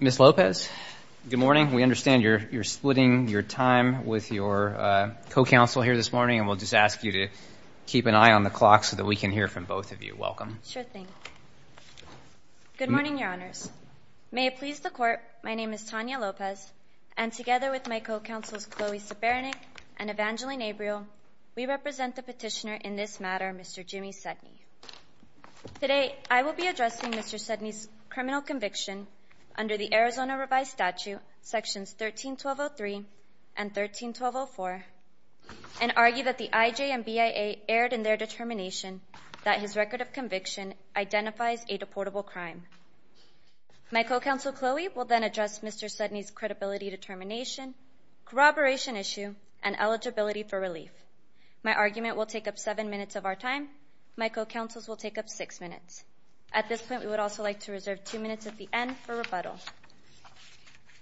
Ms. Lopez, good morning. We understand you're splitting your time with your co-counsel here this morning, and we'll just ask you to keep an eye on the clock so that we can hear from both of you. Welcome. Sure thing. Good morning, Your Honors. May it please the Court, my name is Tanya Lopez, and together with my co-counsels Chloe Sibaranik and Evangeline Abreu, we represent the petitioner in this matter, Mr. Jimmy Sudney. Today I will be addressing Mr. Sudney's criminal conviction under the Arizona Revised Statute Sections 13-1203 and 13-1204 and argue that the IJ and BIA erred in their determination that his record of conviction identifies a deportable crime. My co-counsel Chloe will then address Mr. Sudney's credibility determination, corroboration issue, and eligibility for relief. My argument will take up seven minutes of our time. My co-counsels will take up six minutes. At this point, we would also like to reserve two minutes at the end for rebuttal.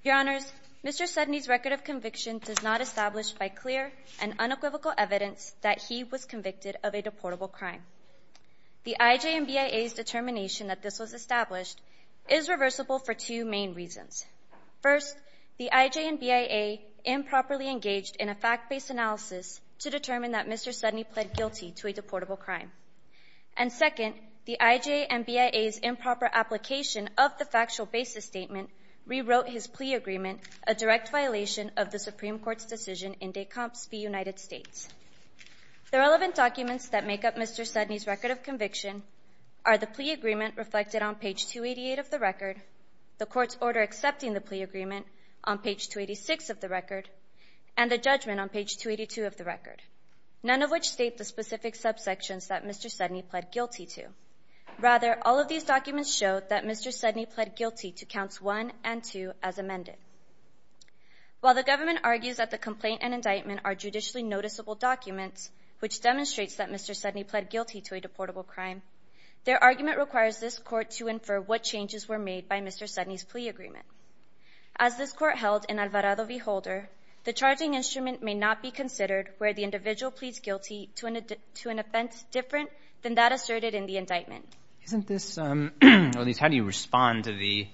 Your Honors, Mr. Sudney's record of conviction does not establish by clear and unequivocal evidence that he was convicted of a deportable crime. The IJ and BIA's determination that this was established is reversible for two main reasons. First, the IJ and BIA improperly engaged in a fact-based analysis to determine that Mr. Sudney pled guilty to a deportable crime. And second, the IJ and BIA's improper application of the factual basis statement rewrote his plea agreement, a direct violation of the Supreme Court's decision in Decomps v. United States. The relevant documents that make up Mr. Sudney's record of conviction are the plea agreement reflected on page 288 of the record, the court's order accepting the plea agreement on page 286 of the record, and the judgment on page 282 of the record, none of which state the specific subsections that Mr. Sudney pled guilty to. Rather, all of these documents show that Mr. Sudney pled guilty to counts 1 and 2 as amended. While the government argues that the complaint and indictment are judicially noticeable documents, which demonstrates that Mr. Sudney pled guilty to a deportable crime, their argument requires this Court to infer what changes were made by Mr. Sudney's plea agreement. As this Court held in Alvarado v. Holder, the charging instrument may not be considered where the individual pleads guilty to an offense different than that asserted in the indictment. Isn't this, or at least how do you respond to the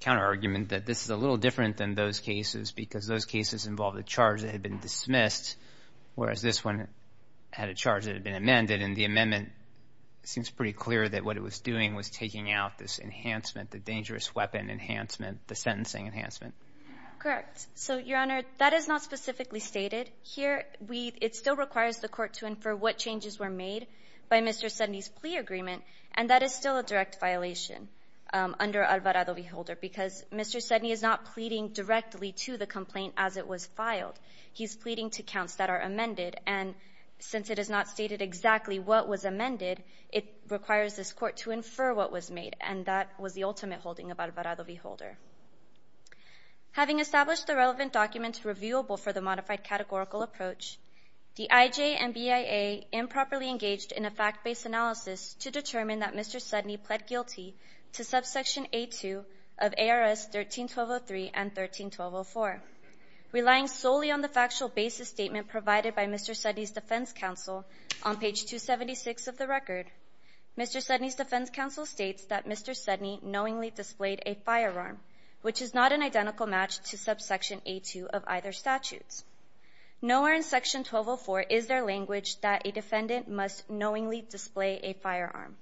counterargument that this is a little different than those cases because those cases involved a charge that had been dismissed, whereas this one had a charge that had been amended, and the amendment seems pretty clear that what it was doing was taking out this enhancement, the dangerous weapon enhancement, the sentencing enhancement. Correct. So, Your Honor, that is not specifically stated. Here, it still requires the Court to infer what changes were made by Mr. Sudney's plea agreement, and that is still a direct violation under Alvarado v. Holder because Mr. Sudney is not pleading directly to the complaint as it was filed. He's pleading to counts that are amended, and since it is not stated exactly what was amended, it requires this Court to infer what was made, and that was the ultimate holding of Alvarado v. Holder. Having established the relevant documents reviewable for the modified categorical approach, the IJ and BIA improperly engaged in a fact-based analysis to determine that Mr. Sudney pled guilty to subsection A-2 of ARS 13-1203 and 13-1204. Relying solely on the factual basis statement provided by Mr. Sudney's defense counsel on page 276 of the record, Mr. Sudney's defense counsel states that Mr. Sudney knowingly displayed a firearm, which is not an identical match to subsection A-2 of either statutes. Nowhere in section 1204 is there language that a defendant must knowingly display a firearm.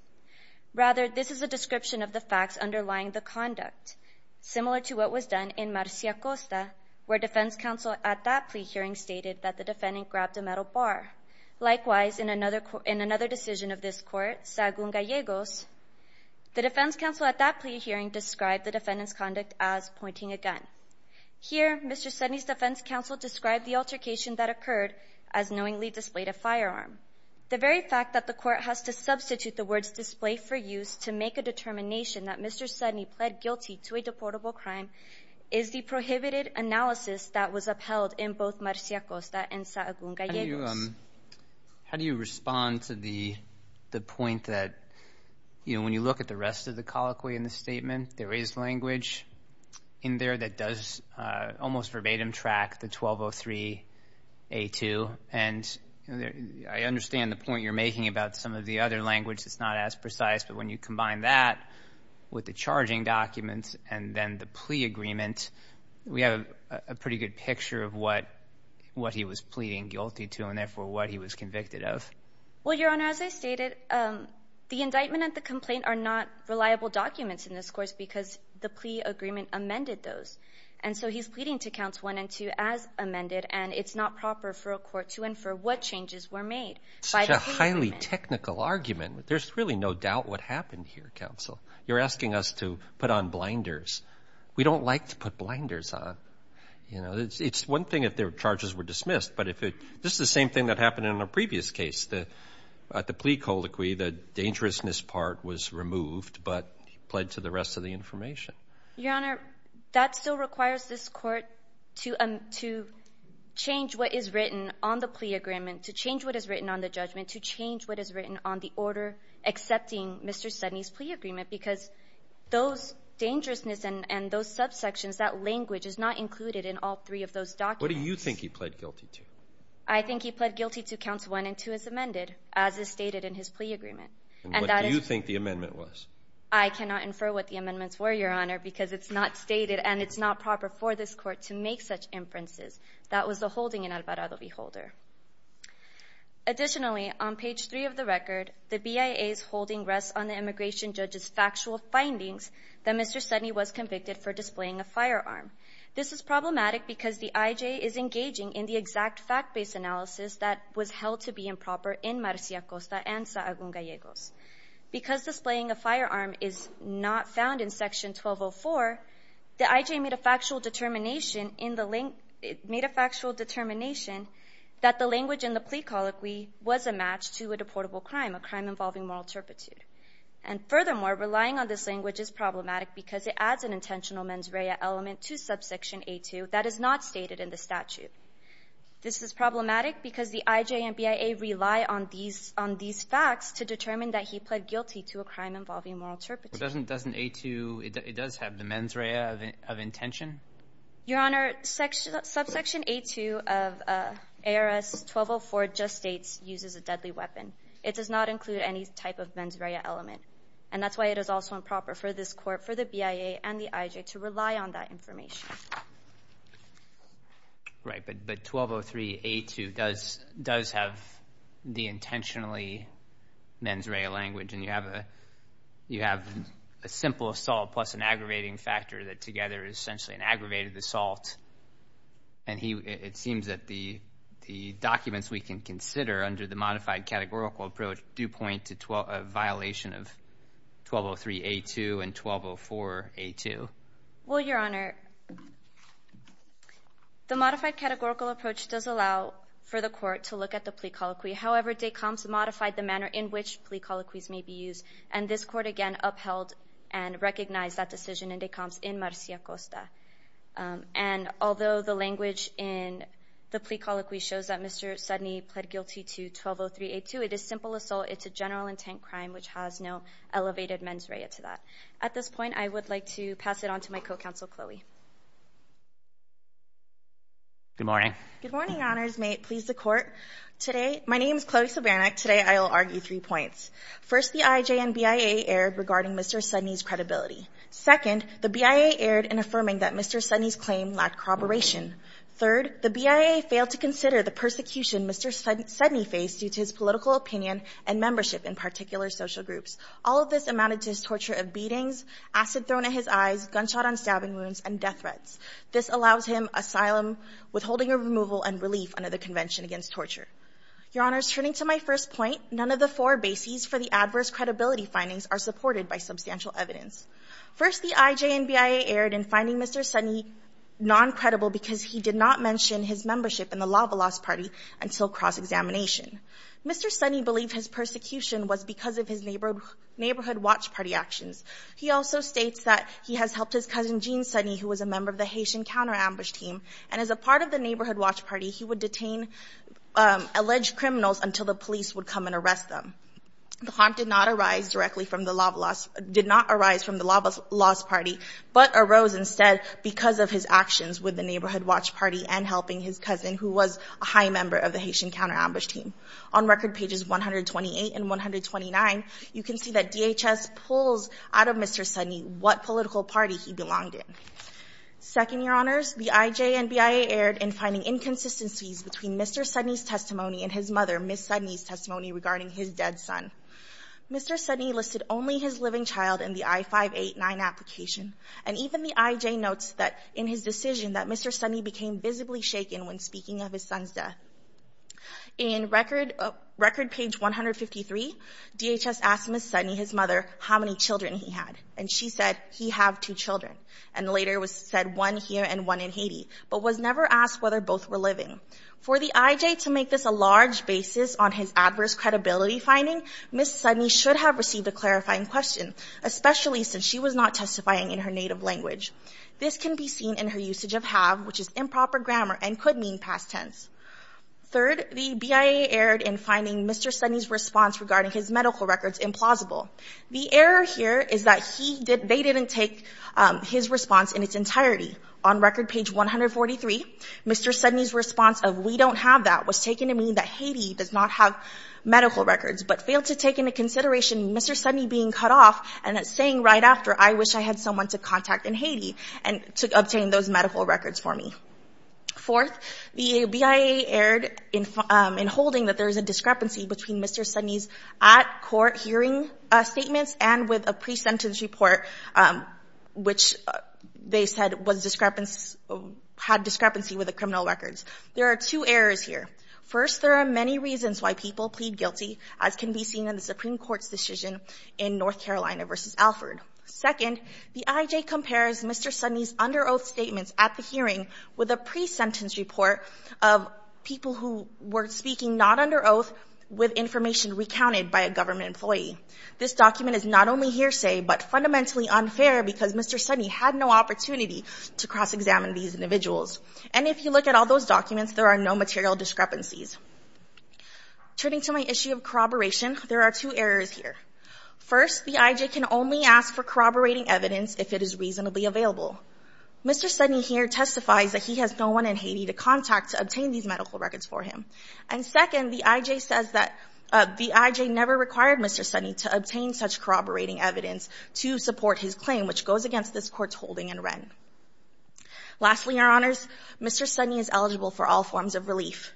Rather, this is a description of the facts underlying the conduct, similar to what was done in Marcia Costa, where defense counsel at that plea hearing stated that the defendant grabbed a metal bar. Likewise, in another decision of this Court, Sagun Gallegos, the defense counsel at that plea hearing described the defendant's conduct as pointing a gun. Here, Mr. Sudney's defense counsel described the altercation that occurred as knowingly displayed a firearm. The very fact that the Court has to substitute the words display for use to make a determination that Mr. Sudney pled guilty to a deportable crime is the prohibited analysis that was upheld in both Marcia Costa and Sagun Gallegos. How do you respond to the point that when you look at the rest of the colloquy in the statement, there is language in there that does almost verbatim track the 1203 A-2, and I understand the point you're making about some of the other language that's not as precise, but when you combine that with the charging documents and then the plea agreement, we have a pretty good picture of what he was pleading guilty to and, therefore, what he was convicted of. Well, Your Honor, as I stated, the indictment and the complaint are not reliable documents in this course because the plea agreement amended those, and so he's pleading to Counts 1 and 2 as amended, and it's not proper for a court to infer what changes were made by the plea agreement. Such a highly technical argument. There's really no doubt what happened here, Counsel. You're asking us to put on blinders. We don't like to put blinders on. You know, it's one thing if their charges were dismissed, but if it's just the same thing that happened in a previous case, the plea colloquy, the dangerousness part was removed but pled to the rest of the information. Your Honor, that still requires this court to change what is written on the plea agreement, to change what is written on the judgment, to change what is written on the order accepting Mr. Sudney's plea agreement because those dangerousness and those subsections, that language is not included in all three of those documents. What do you think he pled guilty to? I think he pled guilty to Counts 1 and 2 as amended, as is stated in his plea agreement. And what do you think the amendment was? I cannot infer what the amendments were, Your Honor, because it's not stated and it's not proper for this court to make such inferences. That was the holding in Alvarado v. Holder. Additionally, on page 3 of the record, the BIA's holding rests on the immigration judge's factual findings that Mr. Sudney was convicted for displaying a firearm. This is problematic because the IJ is engaging in the exact fact-based analysis that was held to be improper in Marcia Costa and Saagun Gallegos. Because displaying a firearm is not found in Section 1204, the IJ made a factual determination that the language in the plea colloquy was a match to a deportable crime, a crime involving moral turpitude. And furthermore, relying on this language is problematic because it adds an intentional mens rea element to Subsection A2 that is not stated in the statute. This is problematic because the IJ and BIA rely on these facts to determine that he pled guilty to a crime involving moral turpitude. Doesn't A2 have the mens rea of intention? Your Honor, Subsection A2 of ARS 1204 just states uses a deadly weapon. It does not include any type of mens rea element, and that's why it is also improper for this court, for the BIA and the IJ, to rely on that information. Right, but 1203A2 does have the intentionally mens rea language, and you have a simple assault plus an aggravating factor that together is essentially an aggravated assault. And it seems that the documents we can consider under the modified categorical approach do point to a violation of 1203A2 and 1204A2. Well, Your Honor, the modified categorical approach does allow for the court to look at the plea colloquy. However, DECOMS modified the manner in which plea colloquies may be used, and this court again upheld and recognized that decision in DECOMS in Marcia Costa. And although the language in the plea colloquy shows that Mr. Sudney pled guilty to 1203A2, it is simple assault. It's a general intent crime which has no elevated mens rea to that. At this point, I would like to pass it on to my co-counsel, Chloe. Good morning. Good morning, Your Honors. May it please the Court. Today, my name is Chloe Sobernik. Today I will argue three points. First, the IJ and BIA erred regarding Mr. Sudney's credibility. Second, the BIA erred in affirming that Mr. Sudney's claim lacked corroboration. Third, the BIA failed to consider the persecution Mr. Sudney faced due to his political opinion and membership in particular social groups. All of this amounted to his torture of beatings, acid thrown at his eyes, gunshot on stabbing wounds, and death threats. This allows him asylum, withholding of removal, and relief under the Convention Against Torture. Your Honors, turning to my first point, none of the four bases for the adverse credibility findings are supported by substantial evidence. First, the IJ and BIA erred in finding Mr. Sudney non-credible because he did not mention his membership in the Lava Lost Party until cross-examination. Mr. Sudney believed his persecution was because of his Neighborhood Watch Party actions. He also states that he has helped his cousin Jean Sudney, who was a member of the Haitian Counter-Ambush Team, and as a part of the Neighborhood Watch Party, he would detain alleged criminals until the police would come and arrest them. The harm did not arise directly from the Lava Lost Party, but arose instead because of his actions with the Neighborhood Watch Party and helping his cousin, who was a high member of the Haitian Counter-Ambush Team. On record pages 128 and 129, you can see that DHS pulls out of Mr. Sudney what political party he belonged in. Second, Your Honors, the IJ and BIA erred in finding inconsistencies between Mr. Sudney's testimony and his mother, Ms. Sudney's testimony, regarding his dead son. Mr. Sudney listed only his living child in the I-589 application, and even the IJ notes in his decision that Mr. Sudney became visibly shaken when speaking of his son's death. In record page 153, DHS asked Ms. Sudney, his mother, how many children he had, and she said, he have two children, and later said one here and one in Haiti, but was never asked whether both were living. For the IJ to make this a large basis on his adverse credibility finding, Ms. Sudney should have received a clarifying question, especially since she was not testifying in her native language. This can be seen in her usage of have, which is improper grammar and could mean past tense. Third, the BIA erred in finding Mr. Sudney's response regarding his medical records implausible. The error here is that they didn't take his response in its entirety. On record page 143, Mr. Sudney's response of, we don't have that, was taken to mean that Haiti does not have medical records, but failed to take into consideration Mr. Sudney being cut off and saying right after, I wish I had someone to contact in Haiti to obtain those medical records for me. Fourth, the BIA erred in holding that there is a discrepancy between Mr. Sudney's at-court hearing statements and with a pre-sentence report, which they said had discrepancy with the criminal records. There are two errors here. First, there are many reasons why people plead guilty, as can be seen in the Supreme Court's decision in North Carolina v. Alford. Second, the IJ compares Mr. Sudney's under oath statements at the hearing with a pre-sentence report of people who were speaking not under oath with information recounted by a government employee. This document is not only hearsay, but fundamentally unfair because Mr. Sudney had no opportunity to cross-examine these individuals. And if you look at all those documents, there are no material discrepancies. Turning to my issue of corroboration, there are two errors here. First, the IJ can only ask for corroborating evidence if it is reasonably available. Mr. Sudney here testifies that he has no one in Haiti to contact to obtain these medical records for him. And second, the IJ says that the IJ never required Mr. Sudney to obtain such corroborating evidence to support his claim, which goes against this Court's holding in Wren. Lastly, Your Honors, Mr. Sudney is eligible for all forms of relief.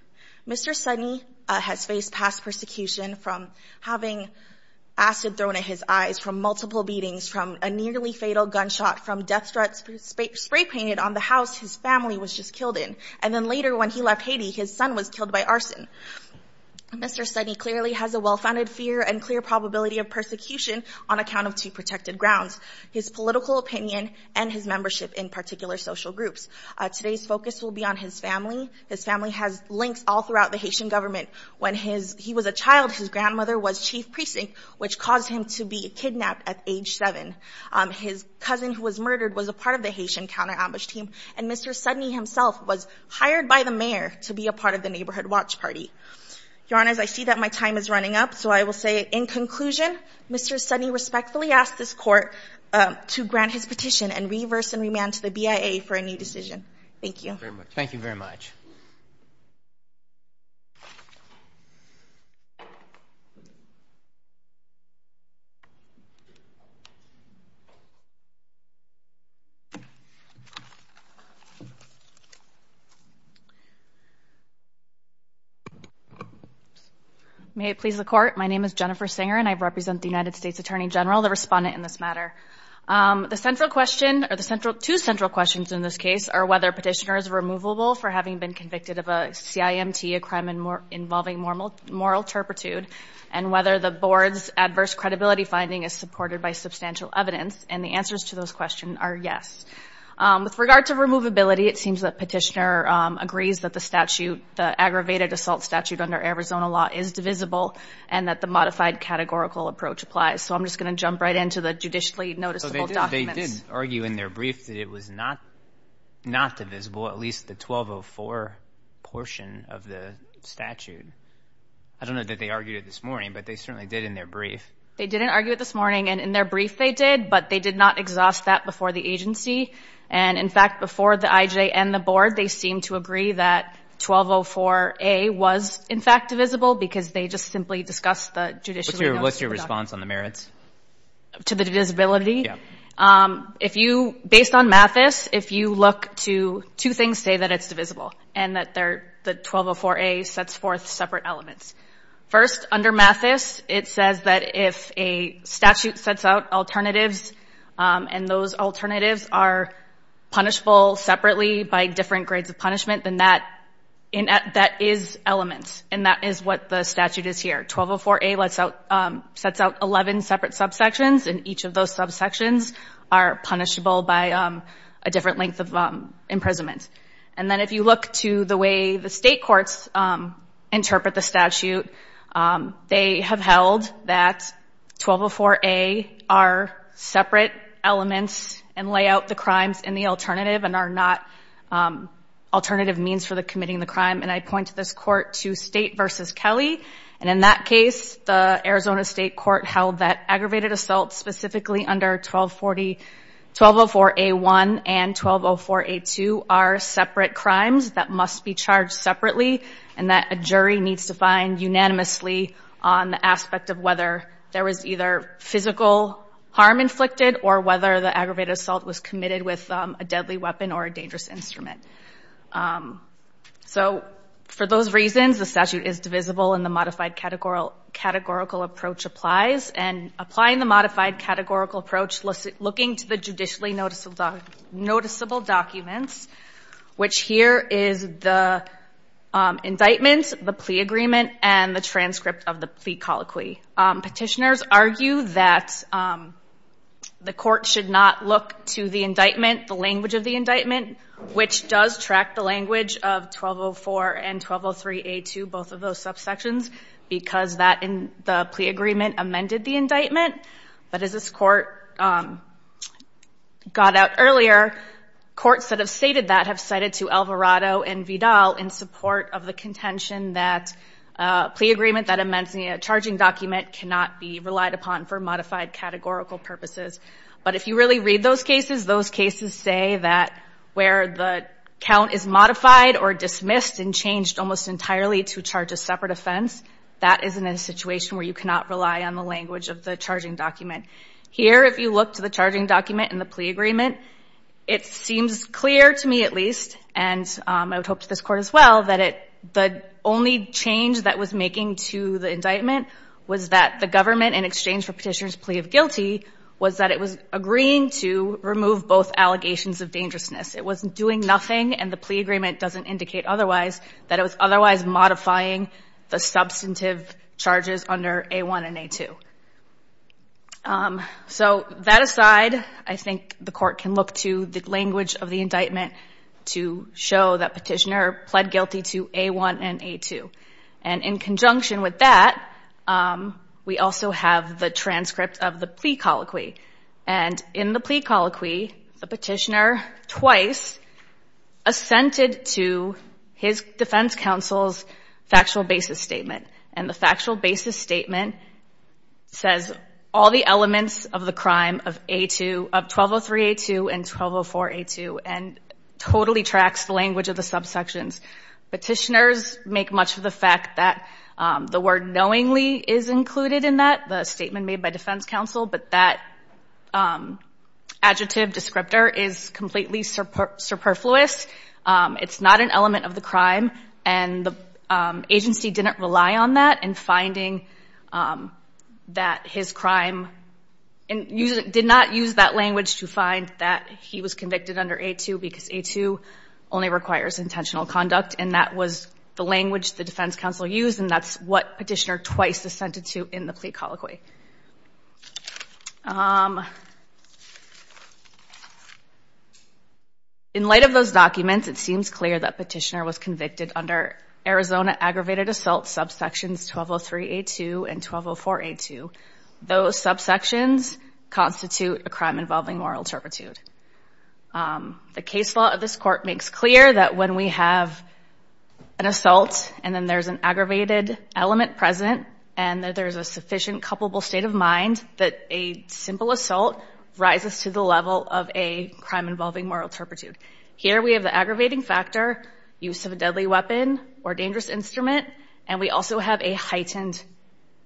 Mr. Sudney has faced past persecution from having acid thrown at his eyes, from multiple beatings, from a nearly fatal gunshot, from death threats spray-painted on the house his family was just killed in. And then later when he left Haiti, his son was killed by arson. Mr. Sudney clearly has a well-founded fear and clear probability of persecution on account of two protected grounds, his political opinion and his membership in particular social groups. Today's focus will be on his family. His family has links all throughout the Haitian government. When he was a child, his grandmother was chief precinct, which caused him to be kidnapped at age seven. His cousin who was murdered was a part of the Haitian counter-ambush team. And Mr. Sudney himself was hired by the mayor to be a part of the neighborhood watch party. Your Honors, I see that my time is running up, so I will say in conclusion, Mr. Sudney respectfully asks this Court to grant his petition and reverse and remand to the BIA for a new decision. Thank you. Thank you very much. May it please the Court. My name is Jennifer Singer and I represent the United States Attorney General, the respondent in this matter. The central question or the two central questions in this case are whether Petitioner is removable for having been convicted of a CIMT, a crime involving moral turpitude, and whether the Board's adverse credibility finding is supported by substantial evidence. And the answers to those questions are yes. With regard to removability, it seems that Petitioner agrees that the statute, the aggravated assault statute under Arizona law is divisible and that the modified categorical approach applies. So I'm just going to jump right into the judicially noticeable documents. They did argue in their brief that it was not divisible, at least the 1204 portion of the statute. I don't know that they argued it this morning, but they certainly did in their brief. They didn't argue it this morning, and in their brief they did, but they did not exhaust that before the agency. And in fact, before the IJ and the Board, they seemed to agree that 1204A was, in fact, divisible because they just simply discussed the judicially noticeable documents. What's your response on the merits? To the divisibility? Yeah. Based on Mathis, if you look to two things, say that it's divisible and that the 1204A sets forth separate elements. First, under Mathis, it says that if a statute sets out alternatives and those alternatives are punishable separately by different grades of punishment, then that is elements, and that is what the statute is here. 1204A sets out 11 separate subsections, and each of those subsections are punishable by a different length of imprisonment. And then if you look to the way the state courts interpret the statute, they have held that 1204A are separate elements and lay out the crimes in the alternative and are not alternative means for committing the crime. And I point to this court to State v. Kelly, and in that case the Arizona State Court held that aggravated assaults, specifically under 1204A1 and 1204A2, are separate crimes that must be charged separately and that a jury needs to find unanimously on the aspect of whether there was either physical harm inflicted or whether the aggravated assault was committed with a deadly weapon or a dangerous instrument. So for those reasons, the statute is divisible and the modified categorical approach applies. And applying the modified categorical approach, looking to the judicially noticeable documents, which here is the indictment, the plea agreement, and the transcript of the plea colloquy. Petitioners argue that the court should not look to the indictment, the language of the indictment, which does track the language of 1204 and 1203A2, both of those subsections, because that and the plea agreement amended the indictment. But as this court got out earlier, courts that have stated that have cited to Alvarado and Vidal felt in support of the contention that a plea agreement that amends a charging document cannot be relied upon for modified categorical purposes. But if you really read those cases, those cases say that where the count is modified or dismissed and changed almost entirely to charge a separate offense, that is in a situation where you cannot rely on the language of the charging document. Here, if you look to the charging document and the plea agreement, it seems clear to me at least, and I would hope to this court as well, that the only change that was making to the indictment was that the government, in exchange for petitioners' plea of guilty, was that it was agreeing to remove both allegations of dangerousness. It was doing nothing, and the plea agreement doesn't indicate otherwise, that it was otherwise modifying the substantive charges under A1 and A2. So that aside, I think the court can look to the language of the indictment to show that petitioner pled guilty to A1 and A2. And in conjunction with that, we also have the transcript of the plea colloquy. And in the plea colloquy, the petitioner twice assented to his defense counsel's factual basis statement, and the factual basis statement says all the elements of the crime of A2, of 1203-A2 and 1204-A2, and totally tracks the language of the subsections. Petitioners make much of the fact that the word knowingly is included in that, the statement made by defense counsel, but that adjective descriptor is completely superfluous. It's not an element of the crime, and the agency didn't rely on that in finding that his crime... Did not use that language to find that he was convicted under A2 because A2 only requires intentional conduct, and that was the language the defense counsel used, and that's what petitioner twice assented to in the plea colloquy. In light of those documents, it seems clear that petitioner was convicted under Arizona aggravated assault subsections 1203-A2 and 1204-A2. Those subsections constitute a crime involving moral turpitude. The case law of this court makes clear that when we have an assault and then there's an aggravated element present and that there's a sufficient coupleable state of mind that a simple assault rises to the level of a crime involving moral turpitude. Here we have the aggravating factor, use of a deadly weapon or dangerous instrument, and we also have a heightened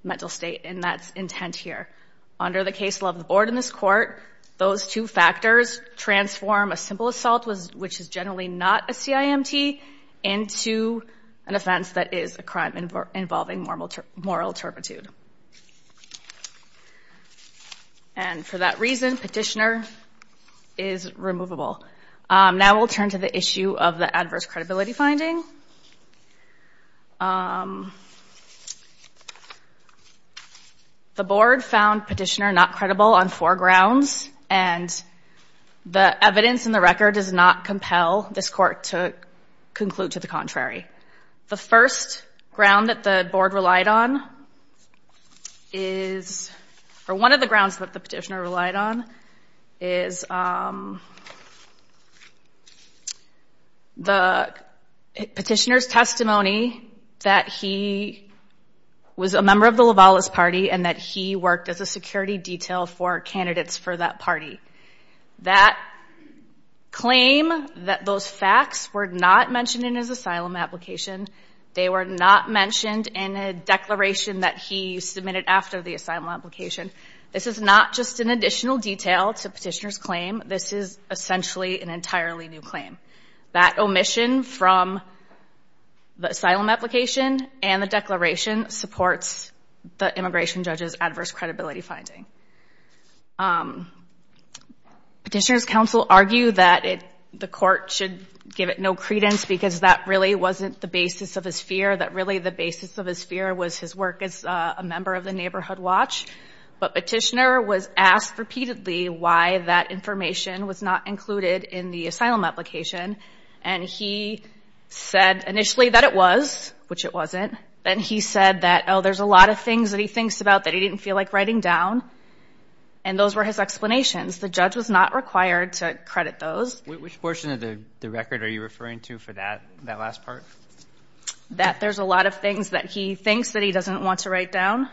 mental state, and that's intent here. Under the case law of the board in this court, those two factors transform a simple assault, which is generally not a CIMT, into an offense that is a crime involving moral turpitude. And for that reason, petitioner is removable. Now we'll turn to the issue of the adverse credibility finding. The board found petitioner not credible on four grounds, and the evidence in the record does not compel this court to conclude to the contrary. The first ground that the board relied on is... or one of the grounds that the petitioner relied on is the petitioner's testimony that he was a member of the Lovalis party and that he worked as a security detail for candidates for that party. That claim that those facts were not mentioned in his asylum application, they were not mentioned in a declaration that he submitted after the asylum application, this is not just an additional detail to petitioner's claim, this is essentially an entirely new claim. That omission from the asylum application and the declaration supports the immigration judge's adverse credibility finding. Petitioner's counsel argued that the court should give it no credence because that really wasn't the basis of his fear, that really the basis of his fear was his work as a member of the Neighborhood Watch, but petitioner was asked repeatedly why that information was not included in the asylum application, and he said initially that it was, which it wasn't, and he said that, oh, there's a lot of things that he thinks about that he didn't feel like writing down, and those were his explanations. The judge was not required to credit those. Which portion of the record are you referring to for that last part? That there's a lot of things that he thinks that he doesn't want to write down.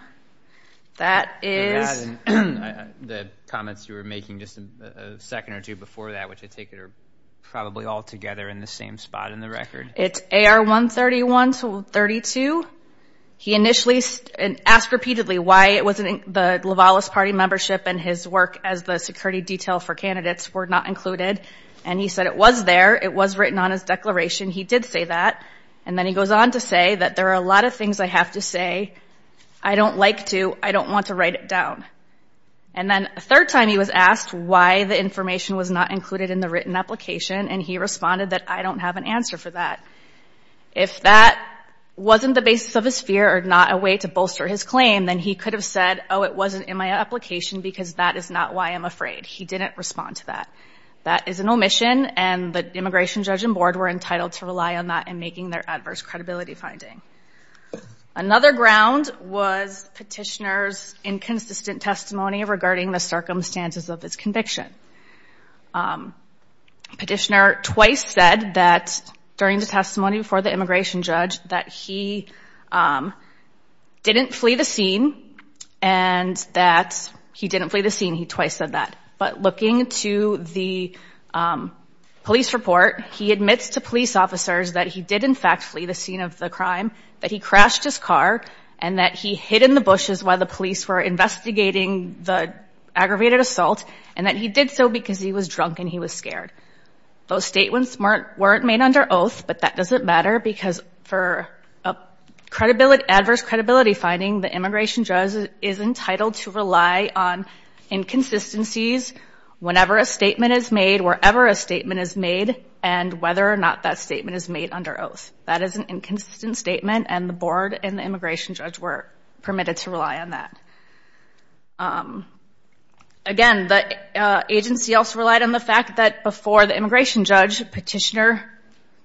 That is... The comments you were making just a second or two before that, which I take it are probably all together in the same spot in the record. It's AR 131-32. He initially asked repeatedly why it wasn't the Lovalis Party membership and his work as the security detail for candidates were not included, and he said it was there, it was written on his declaration, he did say that, and then he goes on to say that there are a lot of things I have to say I don't like to, I don't want to write it down. And then a third time he was asked why the information was not included in the written application, and he responded that I don't have an answer for that. If that wasn't the basis of his fear or not a way to bolster his claim, then he could have said, oh, it wasn't in my application because that is not why I'm afraid. He didn't respond to that. That is an omission, and the immigration judge and board were entitled to rely on that in making their adverse credibility finding. Another ground was Petitioner's inconsistent testimony regarding the circumstances of his conviction. Petitioner twice said that during the testimony before the immigration judge that he didn't flee the scene and that he didn't flee the scene, he twice said that. But looking to the police report, he admits to police officers that he did in fact flee the scene of the crime, that he crashed his car, and that he hid in the bushes while the police were investigating the aggravated assault, and that he did so because he was drunk and he was scared. Those statements weren't made under oath, but that doesn't matter because for adverse credibility finding, the immigration judge is entitled to rely on inconsistencies whenever a statement is made, wherever a statement is made, and whether or not that statement is made under oath. That is an inconsistent statement, and the board and the immigration judge were permitted to rely on that. Again, the agency also relied on the fact that before the immigration judge, Petitioner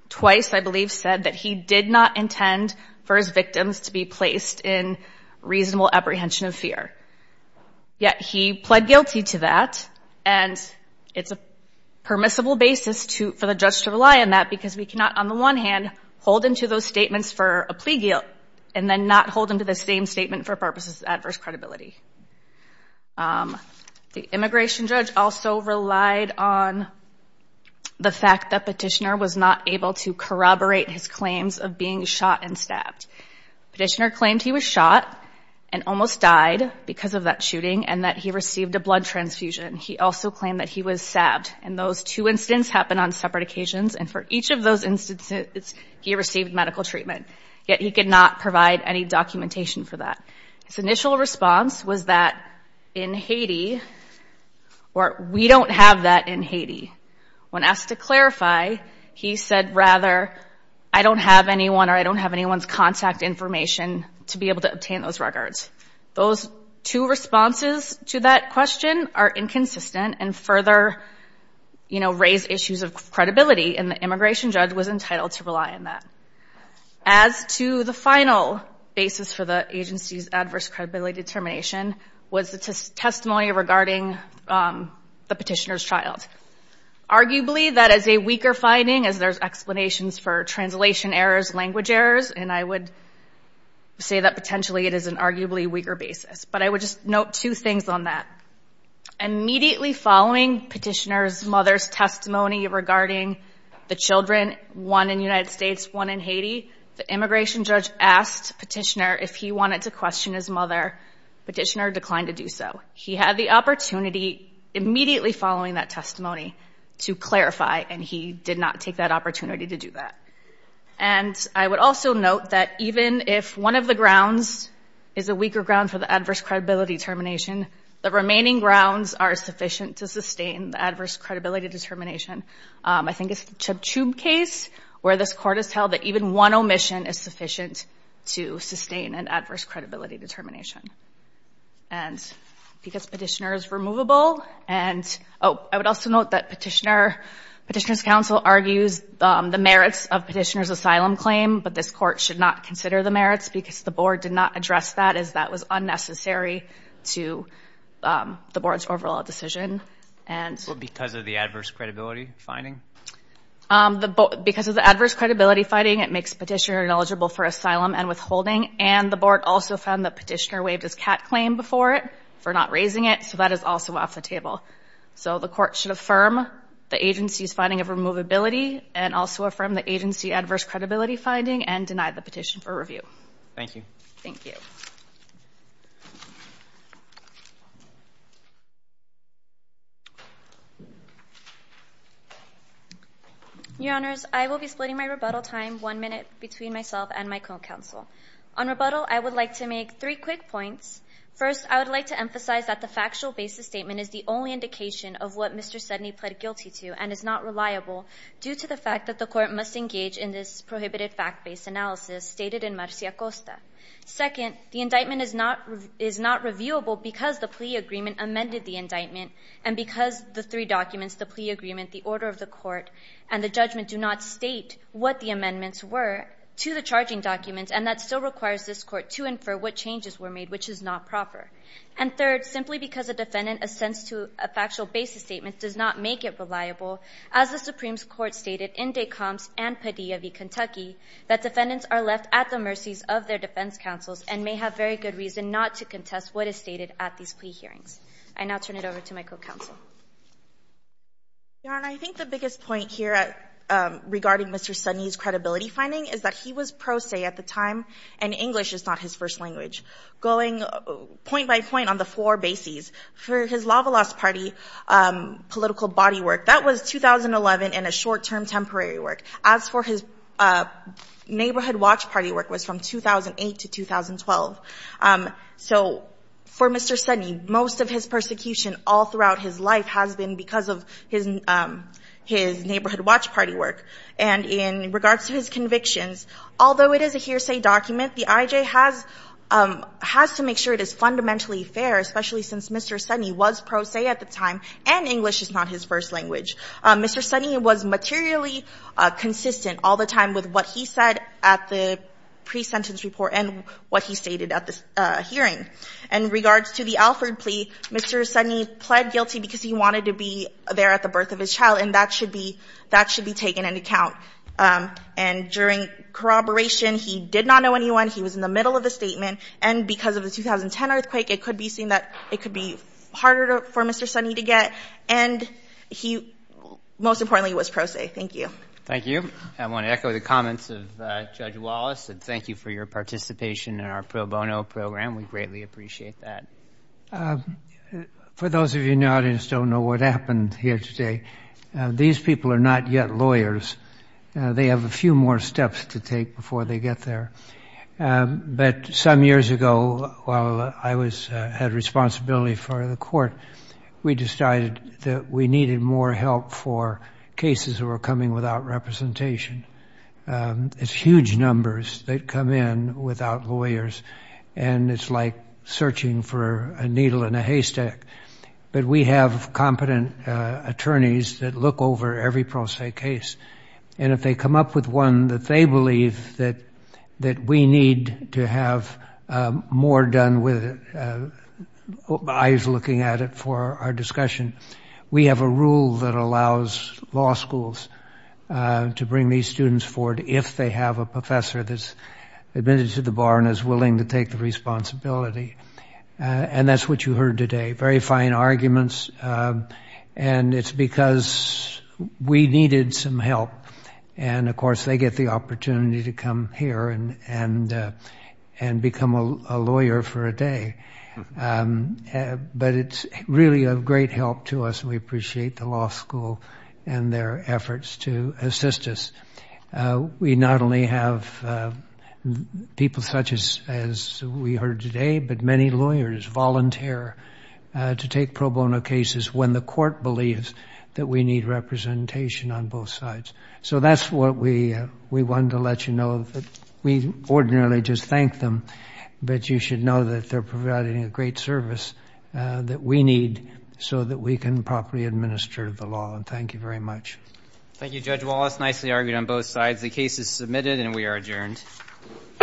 twice, I believe, said that he did not intend for his victims to be placed in reasonable apprehension of fear. Yet he pled guilty to that, and it's a permissible basis for the judge to rely on that because we cannot, on the one hand, hold into those statements for a plea guilt, and then not hold into the same statement for purposes of adverse credibility. The immigration judge also relied on the fact that Petitioner was not able to corroborate his claims of being shot and stabbed. Petitioner claimed he was shot and almost died because of that shooting, and that he received a blood transfusion. He also claimed that he was stabbed. And those two incidents happened on separate occasions, and for each of those instances, he received medical treatment. Yet he could not provide any documentation for that. His initial response was that, in Haiti, or, we don't have that in Haiti. When asked to clarify, he said, rather, I don't have anyone or I don't have anyone's contact information to be able to obtain those records. Those two responses to that question are inconsistent and further, you know, raise issues of credibility, and the immigration judge was entitled to rely on that. As to the final basis for the agency's adverse credibility determination was the testimony regarding the Petitioner's child. Arguably, that is a weaker finding as there's explanations for translation errors, language errors, and I would say that potentially it is an arguably weaker basis. But I would just note two things on that. Immediately following Petitioner's mother's testimony regarding the children, one in the United States, one in Haiti, the immigration judge asked Petitioner if he wanted to question his mother. Petitioner declined to do so. He had the opportunity, immediately following that testimony, to clarify, and he did not take that opportunity to do that. And I would also note that even if one of the grounds is a weaker ground for the adverse credibility determination, the remaining grounds are sufficient to sustain the adverse credibility determination. I think it's a tube case where this Court has held that even one omission is sufficient to sustain an adverse credibility determination. And because Petitioner is removable and... Oh, I would also note that Petitioner's counsel argues the merits of Petitioner's asylum claim, but this Court should not consider the merits because the Board did not address that as that was unnecessary to the Board's overall decision. Because of the adverse credibility finding? Because of the adverse credibility finding, it makes Petitioner ineligible for asylum and withholding. And the Board also found that Petitioner waived his CAT claim before it for not raising it, so that is also off the table. So the Court should affirm the agency's finding of removability and also affirm the agency adverse credibility finding and deny the petition for review. Thank you. Thank you. Your Honors, I will be splitting my rebuttal time one minute between myself and my co-counsel. On rebuttal, I would like to make three quick points. First, I would like to emphasize that the factual basis statement is the only indication of what Mr. Sedney pled guilty to and is not reliable due to the fact that the Court must engage in this prohibited fact-based analysis stated in Marcia Costa. Second, the indictment is not reviewable because the plea agreement amended the indictment and because the three documents, the plea agreement, the order of the Court, and the judgment do not state what the amendments were to the charging documents, and that still requires this Court to infer what changes were made, which is not proper. And third, simply because a defendant assents to a factual basis statement does not make it reliable, as the Supreme Court stated in Descamps and Padilla v. Kentucky, that defendants are left at the mercies of their defense counsels and may have very good reason not to contest what is stated at these plea hearings. I now turn it over to my co-counsel. Your Honor, I think the biggest point here regarding Mr. Sedney's credibility finding is that he was pro se at the time, and English is not his first language. Going point by point on the four bases for his Lava Lost Party political body work, that was 2011 and a short-term temporary work. As for his Neighborhood Watch Party work, it was from 2008 to 2012. So for Mr. Sedney, most of his persecution all throughout his life has been because of his Neighborhood Watch Party work. And in regards to his convictions, although it is a hearsay document, the IJ has to make sure it is fundamentally fair, especially since Mr. Sedney was pro se at the time, and English is not his first language. Mr. Sedney was materially consistent all the time with what he said at the pre-sentence report and what he stated at the hearing. In regards to the Alford plea, Mr. Sedney pled guilty because he wanted to be there at the birth of his child, and that should be taken into account. And during corroboration, he did not know anyone. He was in the middle of a statement. And because of the 2010 earthquake, it could be seen that it could be harder for Mr. Sedney to get. And he most importantly was pro se. Thank you. Thank you. I want to echo the comments of Judge Wallace and thank you for your participation in our pro bono program. We greatly appreciate that. For those of you in the audience who don't know what happened here today, these people are not yet lawyers. They have a few more steps to take before they get there. But some years ago, while I had responsibility for the court, we decided that we needed more help for cases that were coming without representation. It's huge numbers that come in without lawyers, and it's like searching for a needle in a haystack. But we have competent attorneys that look over every pro se case, and if they come up with one that they believe that we need to have more done with it, I was looking at it for our discussion. We have a rule that allows law schools to bring these students forward if they have a professor that's admitted to the bar and is willing to take the responsibility. And that's what you heard today. Very fine arguments. And it's because we needed some help. And, of course, they get the opportunity to come here and become a lawyer for a day. But it's really of great help to us, and we appreciate the law school and their efforts to assist us. We not only have people such as we heard today, but many lawyers volunteer to take pro bono cases when the court believes that we need representation on both sides. So that's what we wanted to let you know. We ordinarily just thank them, but you should know that they're providing a great service that we need so that we can properly administer the law, and thank you very much. Thank you, Judge Wallace. Nicely argued on both sides. The case is submitted, and we are adjourned. All rise.